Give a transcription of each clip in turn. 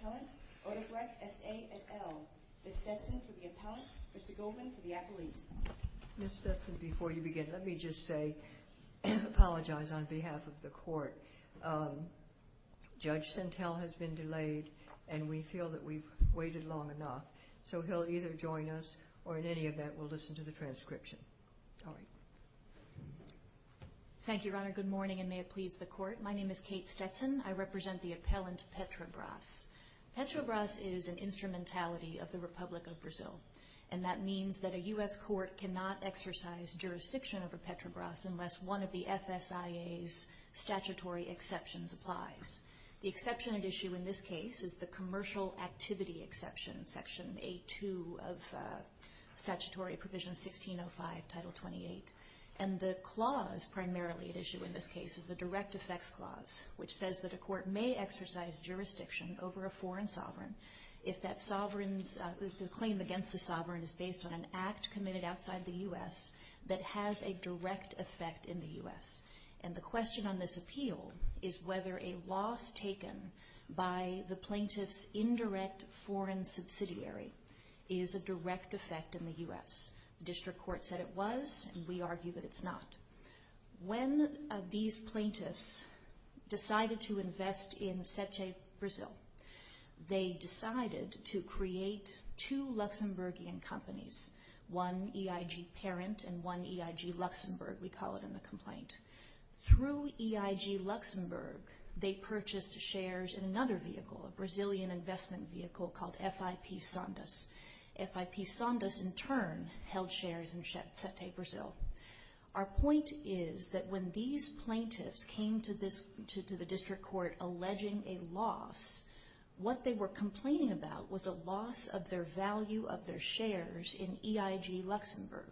Appellant, Odebrecht, S.A. and L. Ms. Stetson for the appellant, Mr. Goldman for the appellees. Ms. Stetson, before you begin, let me just say, apologize on behalf of the court. Judge Sentel has been delayed and we feel that we've waited long enough. We've waited long enough so he'll either join us or in any event will listen to the transcription. All right. Thank you, Your Honor. Good morning and may it please the court. My name is Kate Stetson. I represent the appellant Petrobras. Petrobras is an instrumentality of the Republic of Brazil and that means that a U.S. court cannot exercise jurisdiction over Petrobras unless one of the FSIA's statutory exceptions applies. The exception at issue in this case is the A2 of statutory provision 1605, Title 28. And the clause primarily at issue in this case is the direct effects clause, which says that a court may exercise jurisdiction over a foreign sovereign if that sovereign's claim against the sovereign is based on an act committed outside the U.S. that has a direct effect in the U.S. And the question on this appeal is whether a loss taken by the plaintiff's indirect foreign subsidiary is a direct effect in the U.S. The district court said it was and we argue that it's not. When these plaintiffs decided to invest in Sete Brasil, they decided to create two Luxembourgian companies, one EIG Parent and one EIG Luxembourg, we call it in the complaint. Through EIG Luxembourg, they purchased shares in another vehicle, a Brazilian investment vehicle called FIP Sondas. FIP Sondas in turn held shares in Sete Brasil. Our point is that when these plaintiffs came to the district court alleging a loss, what they were complaining about was a loss of their value of their shares in EIG Luxembourg.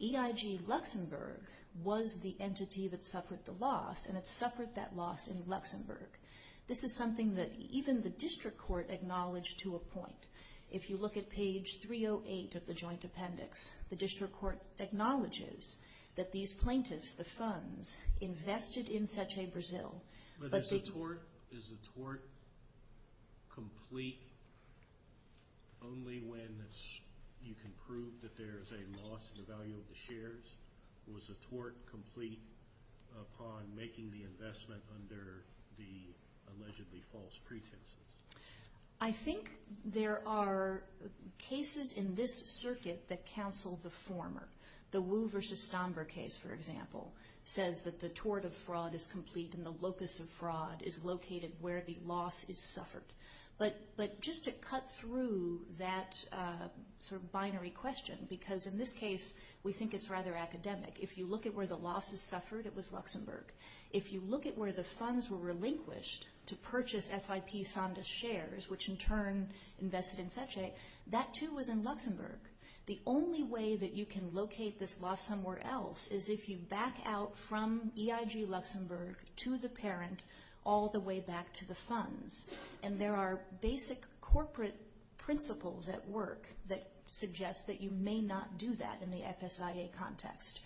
EIG Luxembourg was the entity that suffered the loss and it suffered that loss in Luxembourg. This is something that even the district court acknowledged to a point. If you look at page 308 of the joint appendix, the district court acknowledges that these plaintiffs, the funds, invested in Sete Brasil. But is the tort complete only when you can prove that there is a loss in the value of the shares? Was the tort complete upon making the investment under the allegedly false pretenses? I think there are cases in this circuit that counsel the former. The tort of fraud is complete and the locus of fraud is located where the loss is suffered. But just to cut through that sort of binary question, because in this case we think it's rather academic. If you look at where the loss is suffered, it was Luxembourg. If you look at where the funds were relinquished to purchase FIP Sondas shares, which in turn invested in Sete, that too was in Luxembourg. The only way that you can locate this loss somewhere else is if you back out from EIG Luxembourg to the parent all the way back to the funds. And there are basic corporate principles at work that suggest that you may not do that in the FSIA context.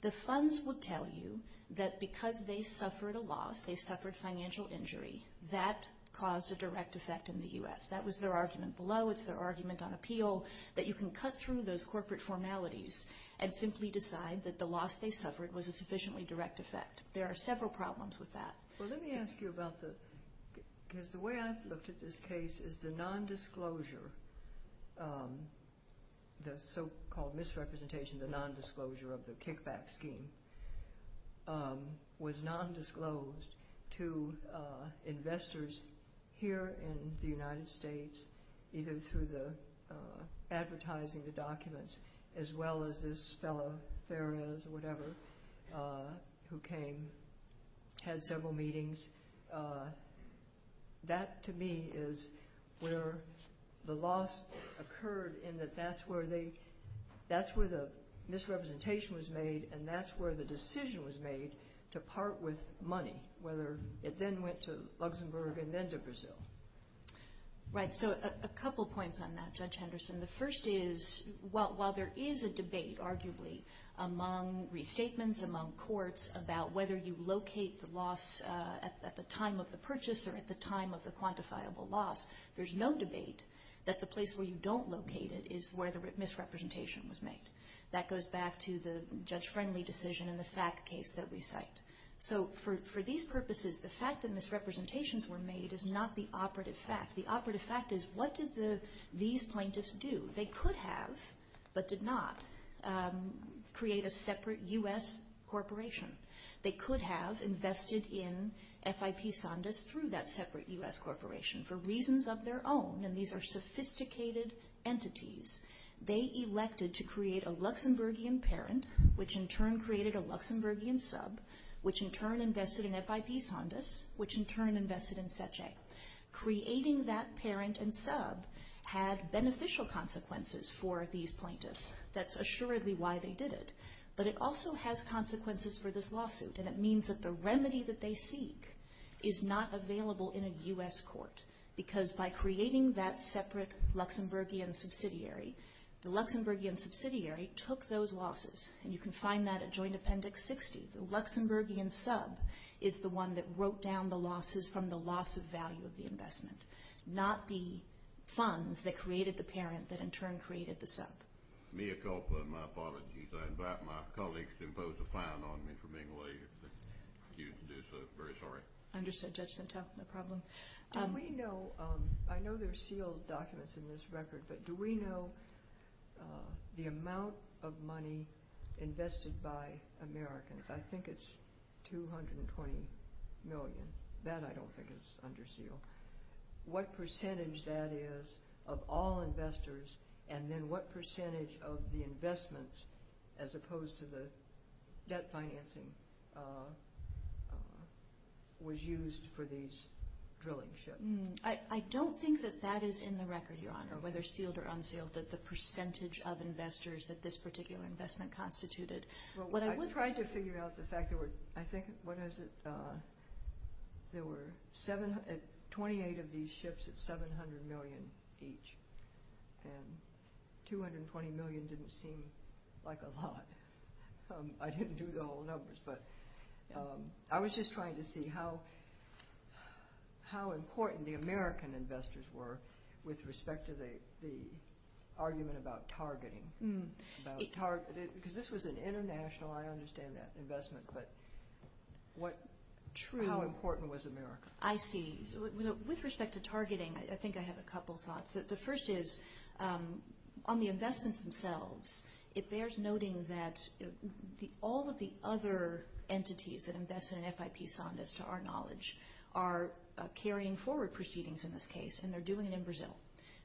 The funds would tell you that because they suffered a loss, they suffered financial injury, that caused a direct effect in the U.S. That was their argument below. It's their argument on appeal that you can cut through those corporate formalities and simply decide that the loss they suffered was a sufficiently direct effect. There are several problems with that. Well, let me ask you about the, because the way I've looked at this case is the nondisclosure, the so-called misrepresentation, the nondisclosure of the kickback scheme, was nondisclosed to this fellow, Perez or whatever, who came, had several meetings. That to me is where the loss occurred in that that's where the misrepresentation was made and that's where the decision was made to part with money, whether it then went to Luxembourg and then to Brazil. Right. So a couple points on that, Judge Henderson. The first is, while there is a debate, arguably, among restatements, among courts, about whether you locate the loss at the time of the purchase or at the time of the quantifiable loss, there's no debate that the place where you don't locate it is where the misrepresentation was made. That goes back to the Judge Friendly decision in the SAC case that we cite. So for these purposes, the fact that misrepresentations were made is not the operative fact. The operative fact is, what did these plaintiffs do? They could have, but did not, create a separate U.S. corporation. They could have invested in FIP Sandus through that separate U.S. corporation for reasons of their own, and these are sophisticated entities. They elected to create a Luxembourgian parent, which in turn created a Luxembourgian sub, which in turn invested in FIP Sandus, which in turn invested in Sece. Creating that parent and sub had beneficial consequences for these plaintiffs. That's assuredly why they did it. But it also has consequences for this lawsuit, and it means that the remedy that they seek is not available in a U.S. court, because by creating that separate Luxembourgian subsidiary, the Luxembourgian subsidiary took those losses, and you can find that at Joint Appendix 60. The Luxembourgian sub is the one that wrote down the losses from the loss of value of the investment, not the funds that created the parent that in turn created the sub. Mea culpa, my apologies. I invite my colleagues to impose a fine on me for being late. I'm very sorry. Understood, Judge Sentelle. No problem. Do we know, I know there are sealed documents in this record, but do we know the amount of money invested by Americans? I think it's $220 million. That I don't think is under seal. What percentage that is of all investors, and then what percentage of the investments, as opposed to the debt financing, was used for these drilling ships? I don't think that that is in the record, Your Honor, whether sealed or unsealed, that percentage of investors that this particular investment constituted. I tried to figure out the fact there were, I think, what is it, there were 28 of these ships at $700 million each, and $220 million didn't seem like a lot. I didn't do the whole numbers, but I was just trying to see how important the American investors were with respect to the argument about targeting. Because this was an international, I understand that, investment, but how important was America? I see. With respect to targeting, I think I have a couple thoughts. The first is, on the investments themselves, it bears noting that all of the other entities that invest in FIP Saunders, to our knowledge, are carrying forward proceedings in this case, and they're doing it in Brazil.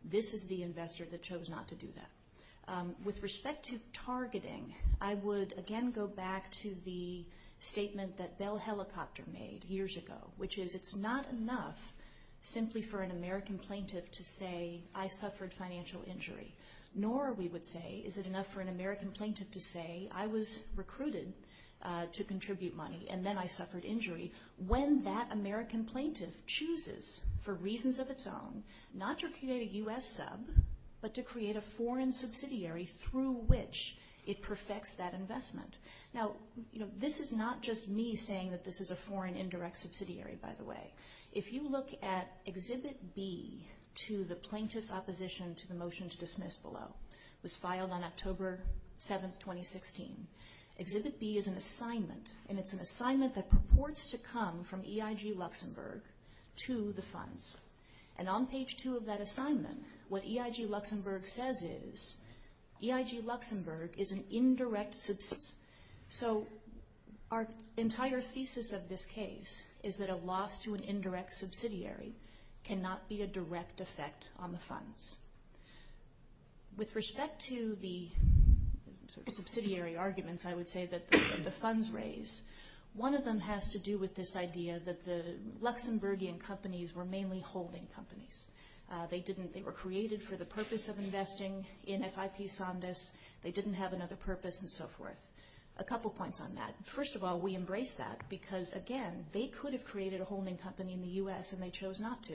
This is the investor that chose not to do that. With respect to targeting, I would, again, go back to the statement that Bell Helicopter made years ago, which is, it's not enough simply for an American plaintiff to say, I suffered financial injury. Nor, we would say, is it enough for an American plaintiff to say, I was recruited to contribute money, and then I suffered injury. When that American plaintiff says that, not to create a U.S. sub, but to create a foreign subsidiary through which it perfects that investment. Now, this is not just me saying that this is a foreign indirect subsidiary, by the way. If you look at Exhibit B, to the plaintiff's opposition to the motion to dismiss below, was filed on October 7th, 2016. Exhibit B is an assignment, and it's an assignment that purports to come from EIG Luxembourg to the funds. And on page two of that assignment, what EIG Luxembourg says is, EIG Luxembourg is an indirect, so our entire thesis of this case is that a loss to an indirect subsidiary cannot be a direct effect on the funds. With respect to the subsidiary arguments, I would say that the funds raised in this case, one of them has to do with this idea that the Luxembourgian companies were mainly holding companies. They didn't, they were created for the purpose of investing in FIP Sandus, they didn't have another purpose, and so forth. A couple points on that. First of all, we embrace that, because again, they could have created a holding company in the U.S. and they chose not to.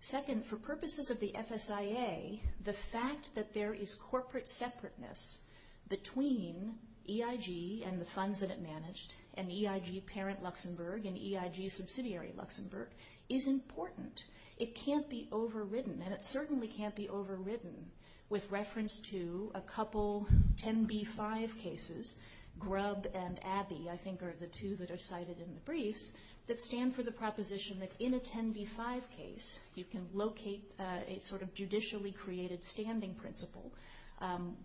Second, for purposes of the FSIA, the fact that there is corporate separateness between EIG and the funds that it managed, and EIG parent Luxembourg and EIG subsidiary Luxembourg, is important. It can't be overridden, and it certainly can't be overridden with reference to a couple 10b-5 cases, Grubb and Abbey, I think are the two that are cited in the briefs, that stand for the proposition that in a 10b-5 case, you can locate a sort of judicially created standing principle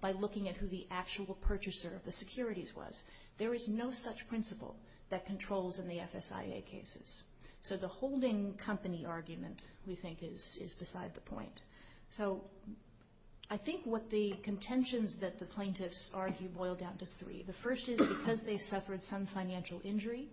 by looking at who the actual purchaser of the securities was. There is no such principle that controls in the FSIA cases. So the holding company argument, we think, is beside the point. So I think what the contentions that the plaintiffs argue boil down to three. The first is because they suffered some financial injury,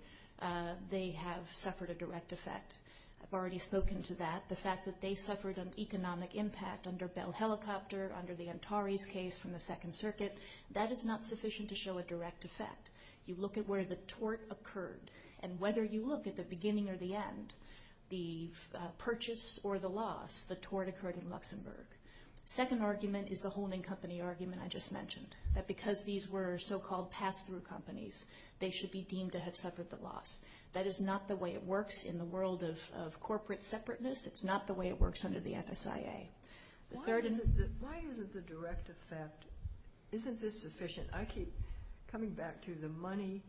they have suffered a direct effect. I've already spoken to that. The fact that they suffered an economic impact under Bell Helicopter, under the Antares case from the Second Circuit, that is not sufficient to show a direct effect. You look at where the tort occurred, and whether you look at the beginning or the end, the purchase or the loss, the tort occurred in Luxembourg. The second argument is the holding company argument I just mentioned, that because these were so-called pass-through companies, they should be deemed to have suffered the loss. That is not the way it works in the world of corporate separateness. It's not the way it works under the FSIA. Why isn't the direct effect, isn't this sufficient? I keep coming back to the money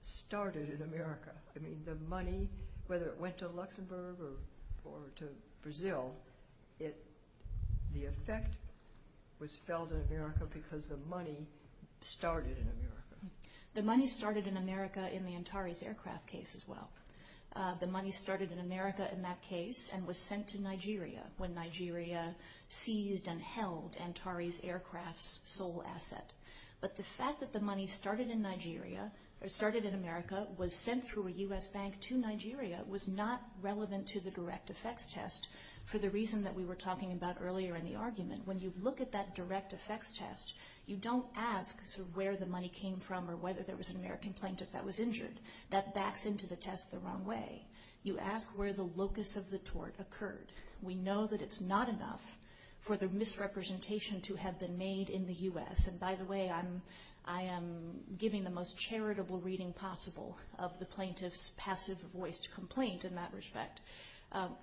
started in America. I mean, the money, whether it went to Luxembourg or to Brazil, the effect was felt in America because the money started in America. The money started in America in the Antares aircraft case as well. The money started in America in that case and was sent to Nigeria when Nigeria seized and held Antares aircraft's sole asset. But the fact that the money started in America, was sent through a U.S. bank to Nigeria, was not relevant to the direct effects test for the reason that we were talking about earlier in the argument. When you look at that direct effects test, you don't ask where the money came from or whether there was an American plaintiff that was injured. That backs into the test the wrong way. You ask where the locus of the tort occurred. We know that it's not enough for the misrepresentation to have been made in the U.S. And by the way, I am giving the most charitable reading possible of the plaintiff's passive voiced complaint in that respect.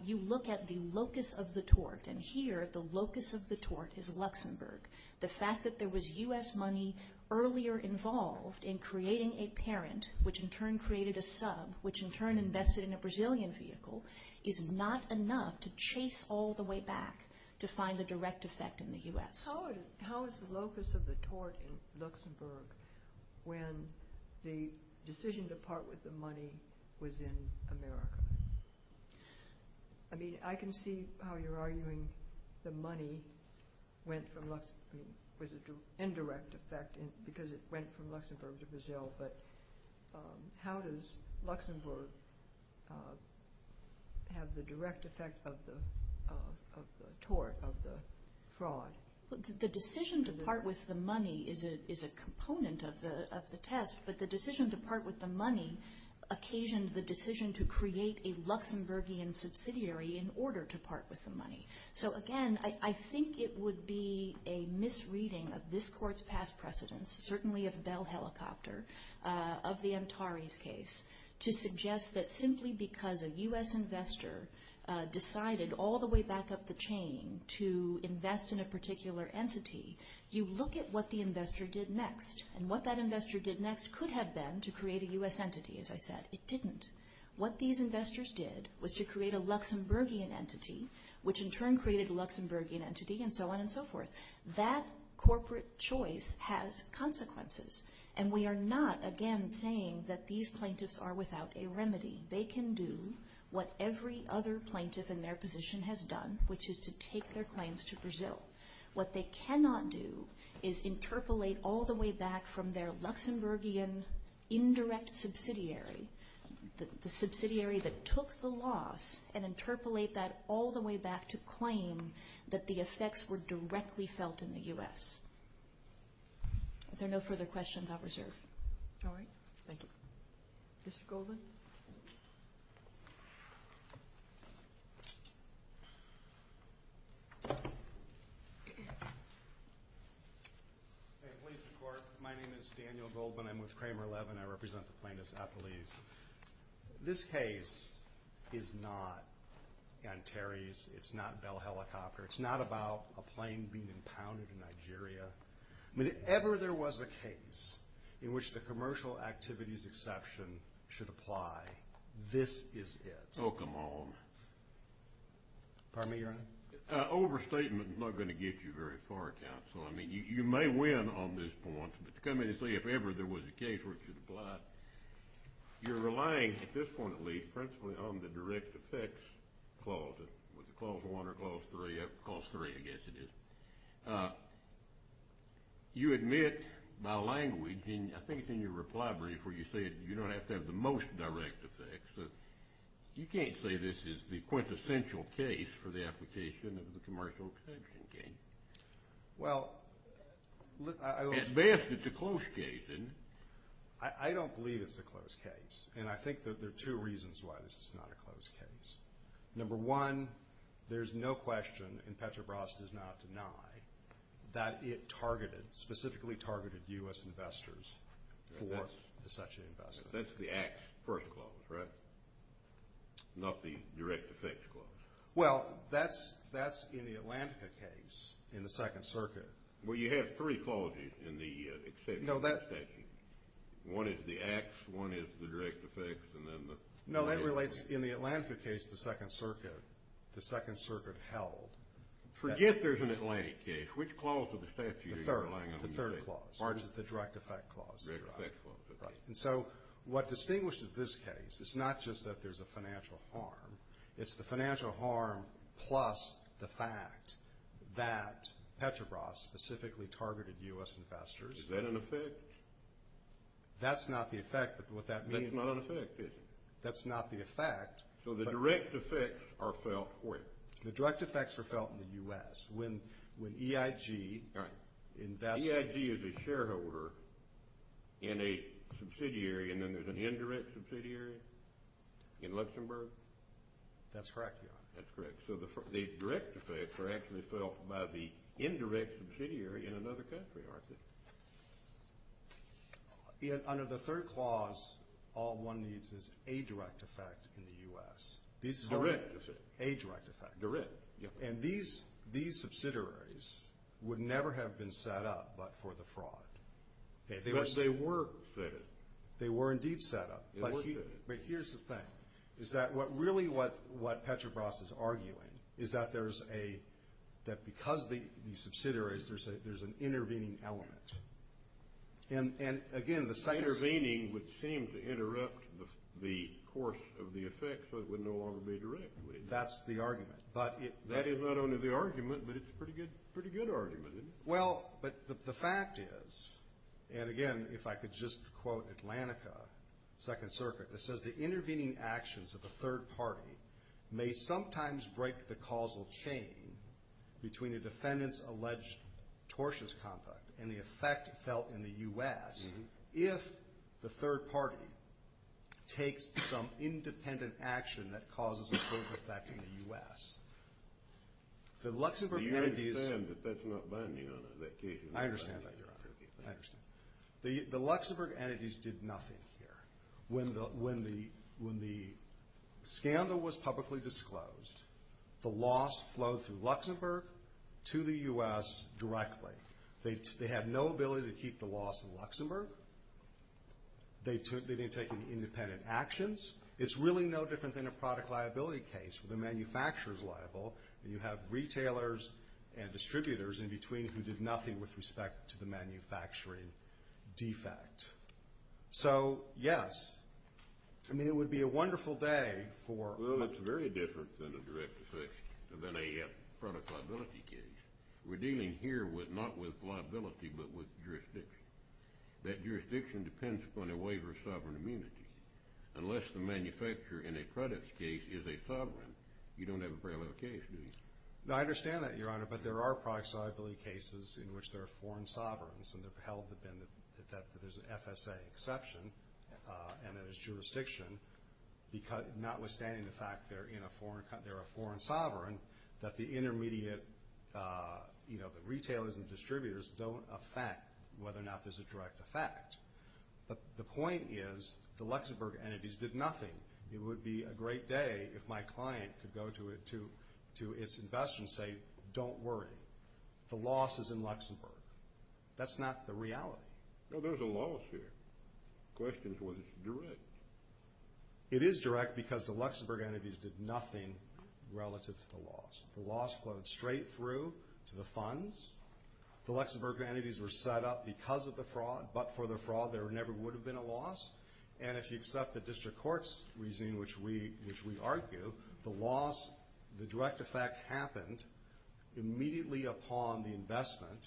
You look at the locus of the tort, and here, the locus of the tort is Luxembourg. The fact that there was U.S. money earlier involved in creating a parent, which in turn created a sub, which in turn invested in a Brazilian vehicle, is not enough to chase all the way back to find the direct effect in the U.S. How is the locus of the tort in Luxembourg when the decision to part with the money was in America? I mean, I can see how you're arguing the money went from Luxembourg was an indirect effect because it went from Luxembourg to Brazil, but how does Luxembourg have the direct effect of the tort, of the fraud? The decision to part with the money is a component of the test, but the decision to part with the money occasioned the decision to create a Luxembourgian subsidiary in order to part with the money. So again, I think it would be a misreading of this Court's past precedence, certainly of Bell Helicopter, of the Antares case, to suggest that simply because a U.S. investor decided all the way back up the chain to invest in a particular entity, you look at what the investor did next, and what that investor did next could have been to create a U.S. entity, as I said. It didn't. What these investors did was to create a Luxembourgian entity, which in turn created a Luxembourgian entity, and so on and so forth. That corporate choice has consequences, and we are not, again, saying that these plaintiffs are without a remedy. They can do what every other plaintiff in their position has done, which is to take their claims to Brazil. What they cannot do is interpolate all the way back from their Luxembourgian indirect subsidiary, the subsidiary that took the loss, and interpolate that all the way back to claim that the effects were directly felt in the U.S. If there are no further questions, I'll reserve. All right. Thank you. Mr. Goldman? Hey, police and court. My name is Daniel Goldman. I'm with Kramer 11. I represent the plaintiffs at police. This case is not Antares. It's not Bell Helicopter. It's not about a plane being in which the commercial activities exception should apply. This is it. Oh, come on. Pardon me, Your Honor? Overstatement is not going to get you very far, counsel. I mean, you may win on this point, but to come in and say if ever there was a case where it should apply, you're relying, at this point at least, principally on the direct effects clause. Was it clause one or clause three? I guess it is. You admit by language, and I think it's in your reply brief where you said you don't have to have the most direct effects. You can't say this is the quintessential case for the application of the commercial exception, can you? Well, look, I... At best, it's a close case. I don't believe it's a close case, and I think that there are two reasons why this is not a close case. Number one, there's no question, and Petrobras does not deny, that it targeted, specifically targeted U.S. investors for such an investment. That's the acts first clause, right? Not the direct effects clause? Well, that's in the Atlantica case in the Second Circuit. Well, you have three clauses in the exception. No, that... One is the acts, one is the direct effects, and then the... No, that relates, in the Atlantica case, the Second Circuit, the Second Circuit held... Forget there's an Atlantic case. Which clause of the statute are you relying on? The third, the third clause, which is the direct effect clause. Direct effect clause, okay. And so what distinguishes this case, it's not just that there's a financial harm, it's the financial harm plus the fact that Petrobras specifically targeted U.S. investors. Is that an effect? That's not the effect, but what that means... That's not an effect, is it? That's not the effect. So the direct effects are felt where? The direct effects are felt in the U.S. When EIG invested... EIG is a shareholder in a subsidiary, and then there's an indirect subsidiary in Luxembourg? That's correct, Your Honor. That's correct. So the direct effects are actually felt by the indirect subsidiary in another country, aren't they? Under the third clause, all one needs is a direct effect in the U.S. Direct effect. A direct effect. Direct, yeah. And these subsidiaries would never have been set up but for the fraud. They were set up. They were indeed set up. They were set up. But here's the thing, is that really what Petrobras is arguing is that there's a, that because these subsidiaries, there's an intervening element. And, again, the... Intervening would seem to interrupt the course of the effect so it would no longer be a direct way. That's the argument. That is not only the argument, but it's a pretty good argument, isn't it? Well, but the fact is, and, again, if I could just quote Atlantica, Second Circuit, that says the intervening actions of a third party may sometimes break the causal chain between a defendant's alleged tortious conduct and the effect felt in the U.S. if the third party takes some independent action that causes a close effect in the U.S. The Luxembourg entities... You understand that that's not binding on that case? I understand that, Your Honor. I understand. The Luxembourg entities did nothing here. When the scandal was publicly disclosed, the loss flowed through Luxembourg to the U.S. directly. They had no ability to keep the loss in Luxembourg. They didn't take any independent actions. It's really no different than a product liability case where the manufacturer is liable and you have retailers and distributors in between who did nothing with respect to the manufacturing defect. So, yes, I mean, it would be a wonderful day for... Well, it's very different than a direct effect, than a product liability case. We're dealing here not with liability but with jurisdiction. That jurisdiction depends upon a waiver of sovereign immunity. Unless the manufacturer in a product case is a sovereign, you don't have a parallel case, do you? I understand that, Your Honor, but there are product liability cases in which there are foreign sovereigns and they've held that there's an FSA exception and that it's jurisdiction, notwithstanding the fact they're a foreign sovereign, that the intermediate retailers and distributors don't affect whether or not there's a direct effect. But the point is the Luxembourg entities did nothing. It would be a great day if my client could go to its investors and say, Don't worry. The loss is in Luxembourg. That's not the reality. No, there's a loss here. The question is whether it's direct. It is direct because the Luxembourg entities did nothing relative to the loss. The loss flowed straight through to the funds. The Luxembourg entities were set up because of the fraud, but for the fraud there never would have been a loss. And if you accept the district court's reasoning, which we argue, the loss, the direct effect happened immediately upon the investment,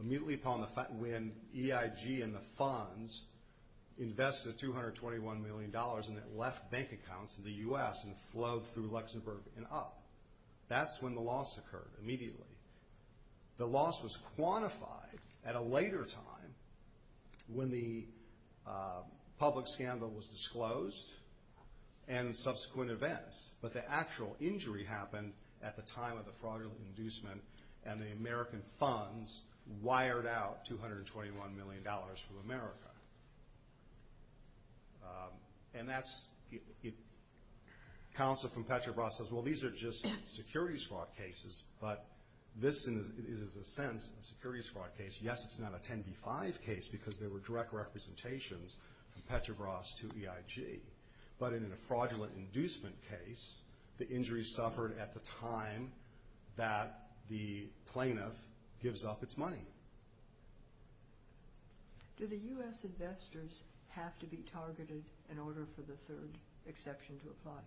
immediately upon the fact when EIG and the funds invested $221 million and it left bank accounts in the U.S. and flowed through Luxembourg and up. That's when the loss occurred immediately. The loss was quantified at a later time when the public scandal was disclosed and subsequent events. But the actual injury happened at the time of the fraudulent inducement and the American funds wired out $221 million from America. And that's counsel from Petrobras says, Well, these are just securities fraud cases, but this is, in a sense, a securities fraud case. Yes, it's not a 10B5 case because there were direct representations from Petrobras to EIG. But in a fraudulent inducement case, the injury suffered at the time that the plaintiff gives up its money. Do the U.S. investors have to be targeted in order for the third exception to apply?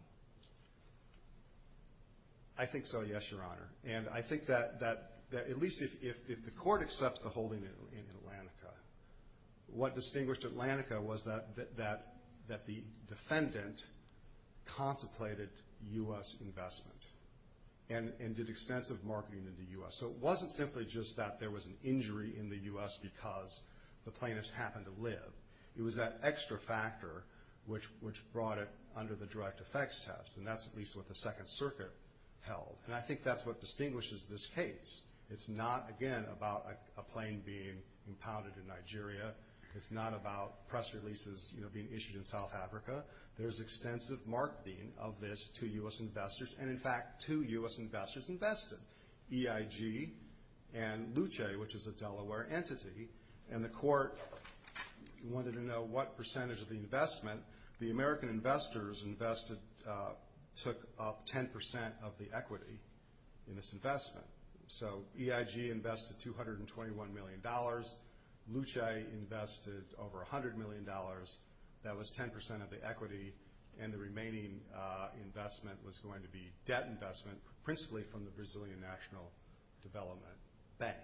I think so, yes, Your Honor. And I think that at least if the court accepts the holding in Atlantica, what distinguished Atlantica was that the defendant contemplated U.S. investment and did extensive marketing in the U.S. So it wasn't simply just that there was an injury in the U.S. because the plaintiffs happened to live. It was that extra factor which brought it under the direct effects test, and that's at least what the Second Circuit held. And I think that's what distinguishes this case. It's not, again, about a plane being impounded in Nigeria. It's not about press releases being issued in South Africa. There's extensive marketing of this to U.S. investors, and, in fact, two U.S. investors invested, EIG and Luce, which is a Delaware entity, and the court wanted to know what percentage of the investment. The American investors invested took up 10% of the equity in this investment. So EIG invested $221 million. Luce invested over $100 million. That was 10% of the equity, and the remaining investment was going to be debt investment, principally from the Brazilian National Development Bank.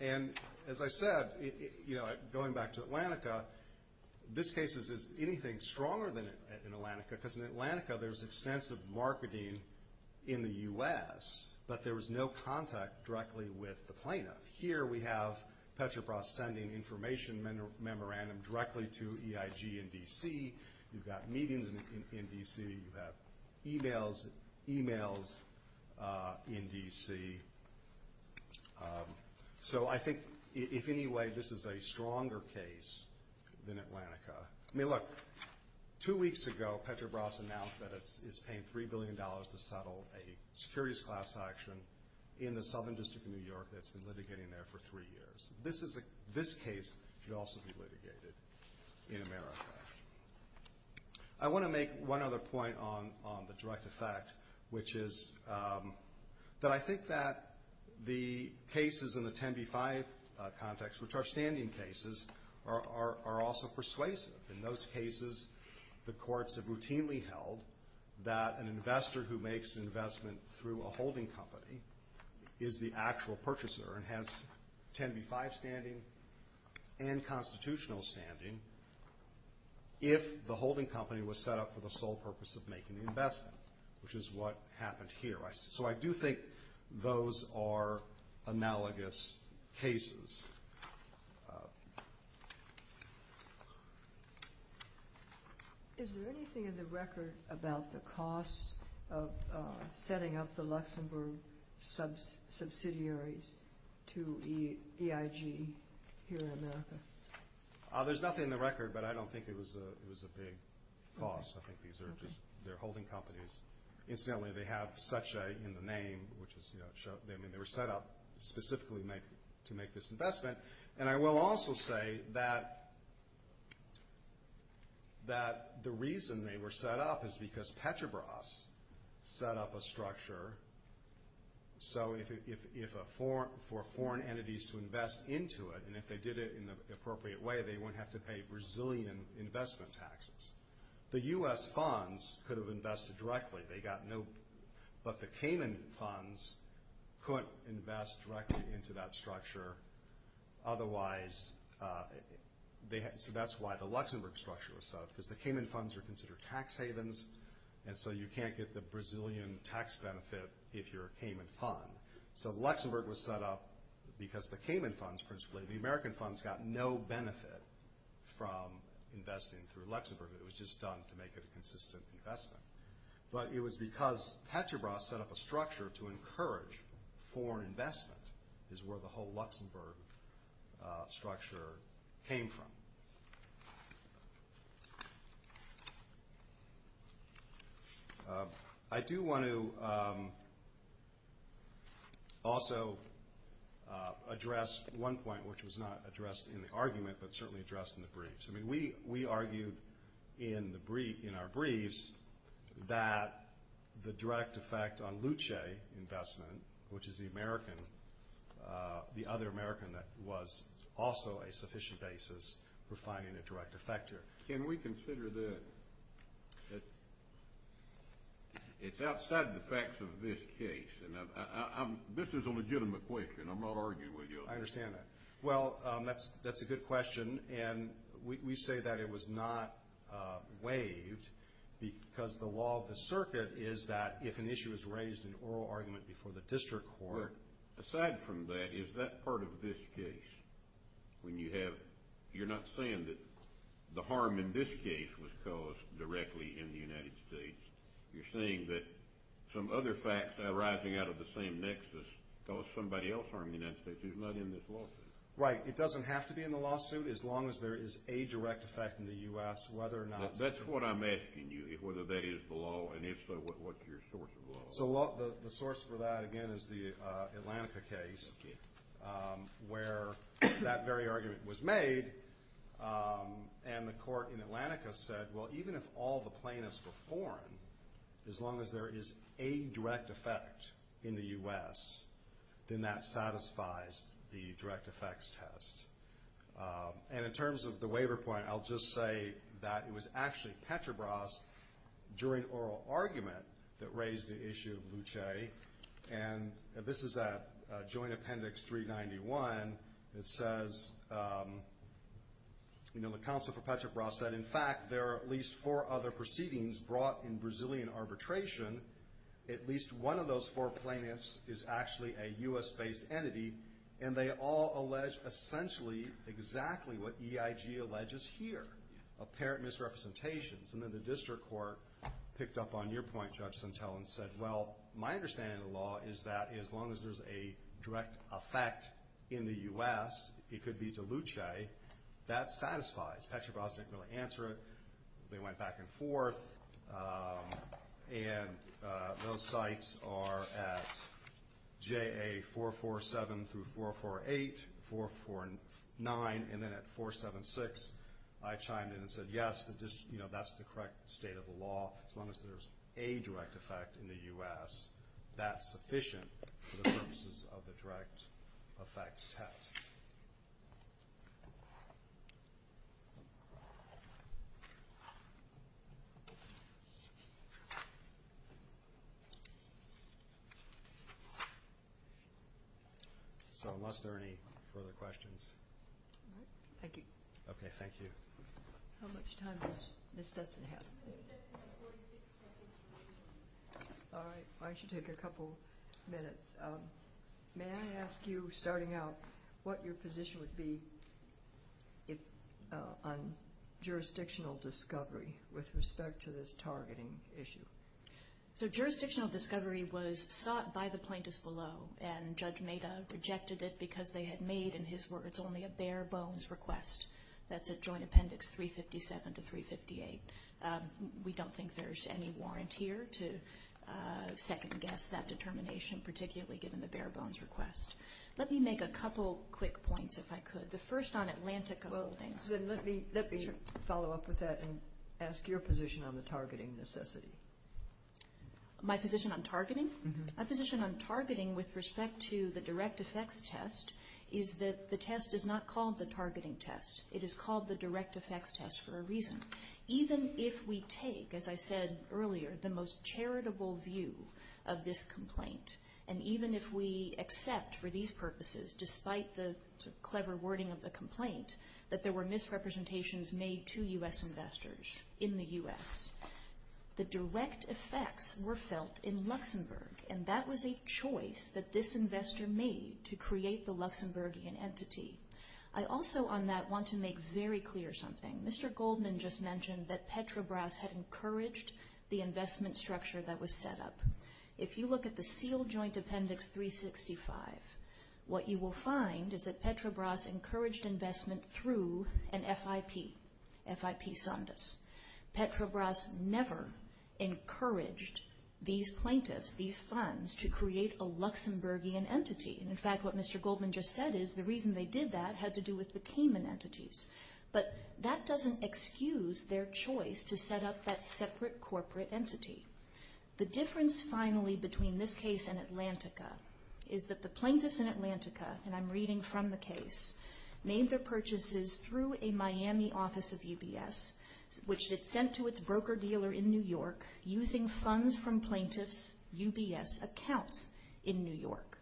And, as I said, going back to Atlantica, this case is anything stronger than in Atlantica because in Atlantica there's extensive marketing in the U.S., but there was no contact directly with the plaintiff. Here we have Petrobras sending information memorandum directly to EIG in D.C. You've got meetings in D.C. You have e-mails in D.C. So I think, if any way, this is a stronger case than Atlantica. I mean, look, two weeks ago Petrobras announced that it's paying $3 billion to settle a securities class action in the Southern District of New York that's been litigating there for three years. This case should also be litigated in America. I want to make one other point on the direct effect, which is that I think that the cases in the 10B-5 context, which are standing cases, are also persuasive. In those cases, the courts have routinely held that an investor who makes an investment through a holding company is the actual purchaser and has 10B-5 standing and constitutional standing if the holding company was set up for the sole purpose of making the investment, which is what happened here. So I do think those are analogous cases. Is there anything in the record about the cost of setting up the Luxembourg subsidiaries to EIG here in America? There's nothing in the record, but I don't think it was a big cost. I think these are just their holding companies. Incidentally, they have such a, in the name, which is, you know, they were set up specifically to make this investment. And I will also say that the reason they were set up is because Petrobras set up a structure so for foreign entities to invest into it, and if they did it in an appropriate way, they wouldn't have to pay Brazilian investment taxes. The U.S. funds could have invested directly. They got no, but the Cayman funds could invest directly into that structure. Otherwise, so that's why the Luxembourg structure was set up, because the Cayman funds are considered tax havens, and so you can't get the Brazilian tax benefit if you're a Cayman fund. So Luxembourg was set up because the Cayman funds principally, the American funds got no benefit from investing through Luxembourg. It was just done to make it a consistent investment. But it was because Petrobras set up a structure to encourage foreign investment, is where the whole Luxembourg structure came from. I do want to also address one point, which was not addressed in the argument, but certainly addressed in the briefs. I mean, we argued in our briefs that the direct effect on Luce investment, which is the American, the other American that was also a sufficient basis for finding a direct effector. Can we consider that it's outside the facts of this case? This is a legitimate question. I'm not arguing with you. I understand that. Well, that's a good question, and we say that it was not waived, because the law of the circuit is that if an issue is raised in oral argument before the district court. Aside from that, is that part of this case? When you have, you're not saying that the harm in this case was caused directly in the United States. You're saying that some other facts arising out of the same nexus caused somebody else harm in the United States who's not in this lawsuit. Right. It doesn't have to be in the lawsuit, as long as there is a direct effect in the U.S., whether or not. That's what I'm asking you, whether that is the law, and if so, what's your source of law? The source for that, again, is the Atlantica case, where that very argument was made, and the court in Atlantica said, well, even if all the plaintiffs were foreign, as long as there is a direct effect in the U.S., then that satisfies the direct effects test. And in terms of the waiver point, I'll just say that it was actually Petrobras during oral argument that raised the issue of Luce, and this is at Joint Appendix 391. It says, you know, the counsel for Petrobras said, in fact, there are at least four other proceedings brought in Brazilian arbitration. At least one of those four plaintiffs is actually a U.S.-based entity, and they all allege essentially exactly what EIG alleges here, apparent misrepresentations. And then the district court picked up on your point, Judge Centel, and said, well, my understanding of the law is that as long as there's a direct effect in the U.S., it could be to Luce, that satisfies. Petrobras didn't really answer it. They went back and forth, and those sites are at JA447 through 448, 449, and then at 476. I chimed in and said, yes, that's the correct state of the law. As long as there's a direct effect in the U.S., that's sufficient for the purposes of the direct effects test. So unless there are any further questions. Thank you. Okay, thank you. How much time does Ms. Stetson have? Ms. Stetson has 46 seconds. All right, I should take a couple minutes. May I ask you, starting out, what your position would be on jurisdictional discovery with respect to this targeting issue? So jurisdictional discovery was sought by the plaintiffs below, and Judge Maida rejected it because they had made, in his words, only a bare-bones request. That's at Joint Appendix 357 to 358. We don't think there's any warrant here to second-guess that determination, particularly given the bare-bones request. Let me make a couple quick points, if I could. The first on Atlantica Holdings. Let me follow up with that and ask your position on the targeting necessity. My position on targeting? My position on targeting with respect to the direct effects test is that the test is not called the targeting test. It is called the direct effects test for a reason. Even if we take, as I said earlier, the most charitable view of this complaint, and even if we accept for these purposes, despite the clever wording of the complaint, that there were misrepresentations made to U.S. investors in the U.S., the direct effects were felt in Luxembourg, and that was a choice that this investor made to create the Luxembourgian entity. I also, on that, want to make very clear something. Mr. Goldman just mentioned that Petrobras had encouraged the investment structure that was set up. If you look at the sealed Joint Appendix 365, what you will find is that Petrobras encouraged investment through an FIP, FIP Sandus. Petrobras never encouraged these plaintiffs, these funds, to create a Luxembourgian entity. In fact, what Mr. Goldman just said is the reason they did that had to do with the Cayman entities. But that doesn't excuse their choice to set up that separate corporate entity. The difference, finally, between this case and Atlantica is that the plaintiffs in Atlantica, and I'm reading from the case, made their purchases through a Miami office of UBS. Which it sent to its broker-dealer in New York using funds from plaintiffs' UBS accounts in New York.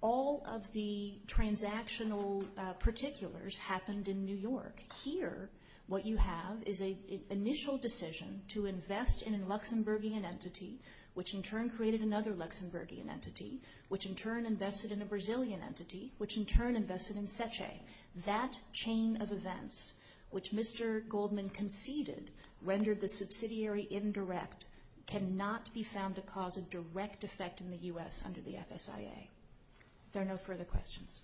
All of the transactional particulars happened in New York. Here, what you have is an initial decision to invest in a Luxembourgian entity, which in turn created another Luxembourgian entity, which in turn invested in a Brazilian entity, which in turn invested in Seche. That chain of events, which Mr. Goldman conceded rendered the subsidiary indirect, cannot be found to cause a direct effect in the U.S. under the FSIA. If there are no further questions.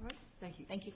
All right. Thank you. Thank you.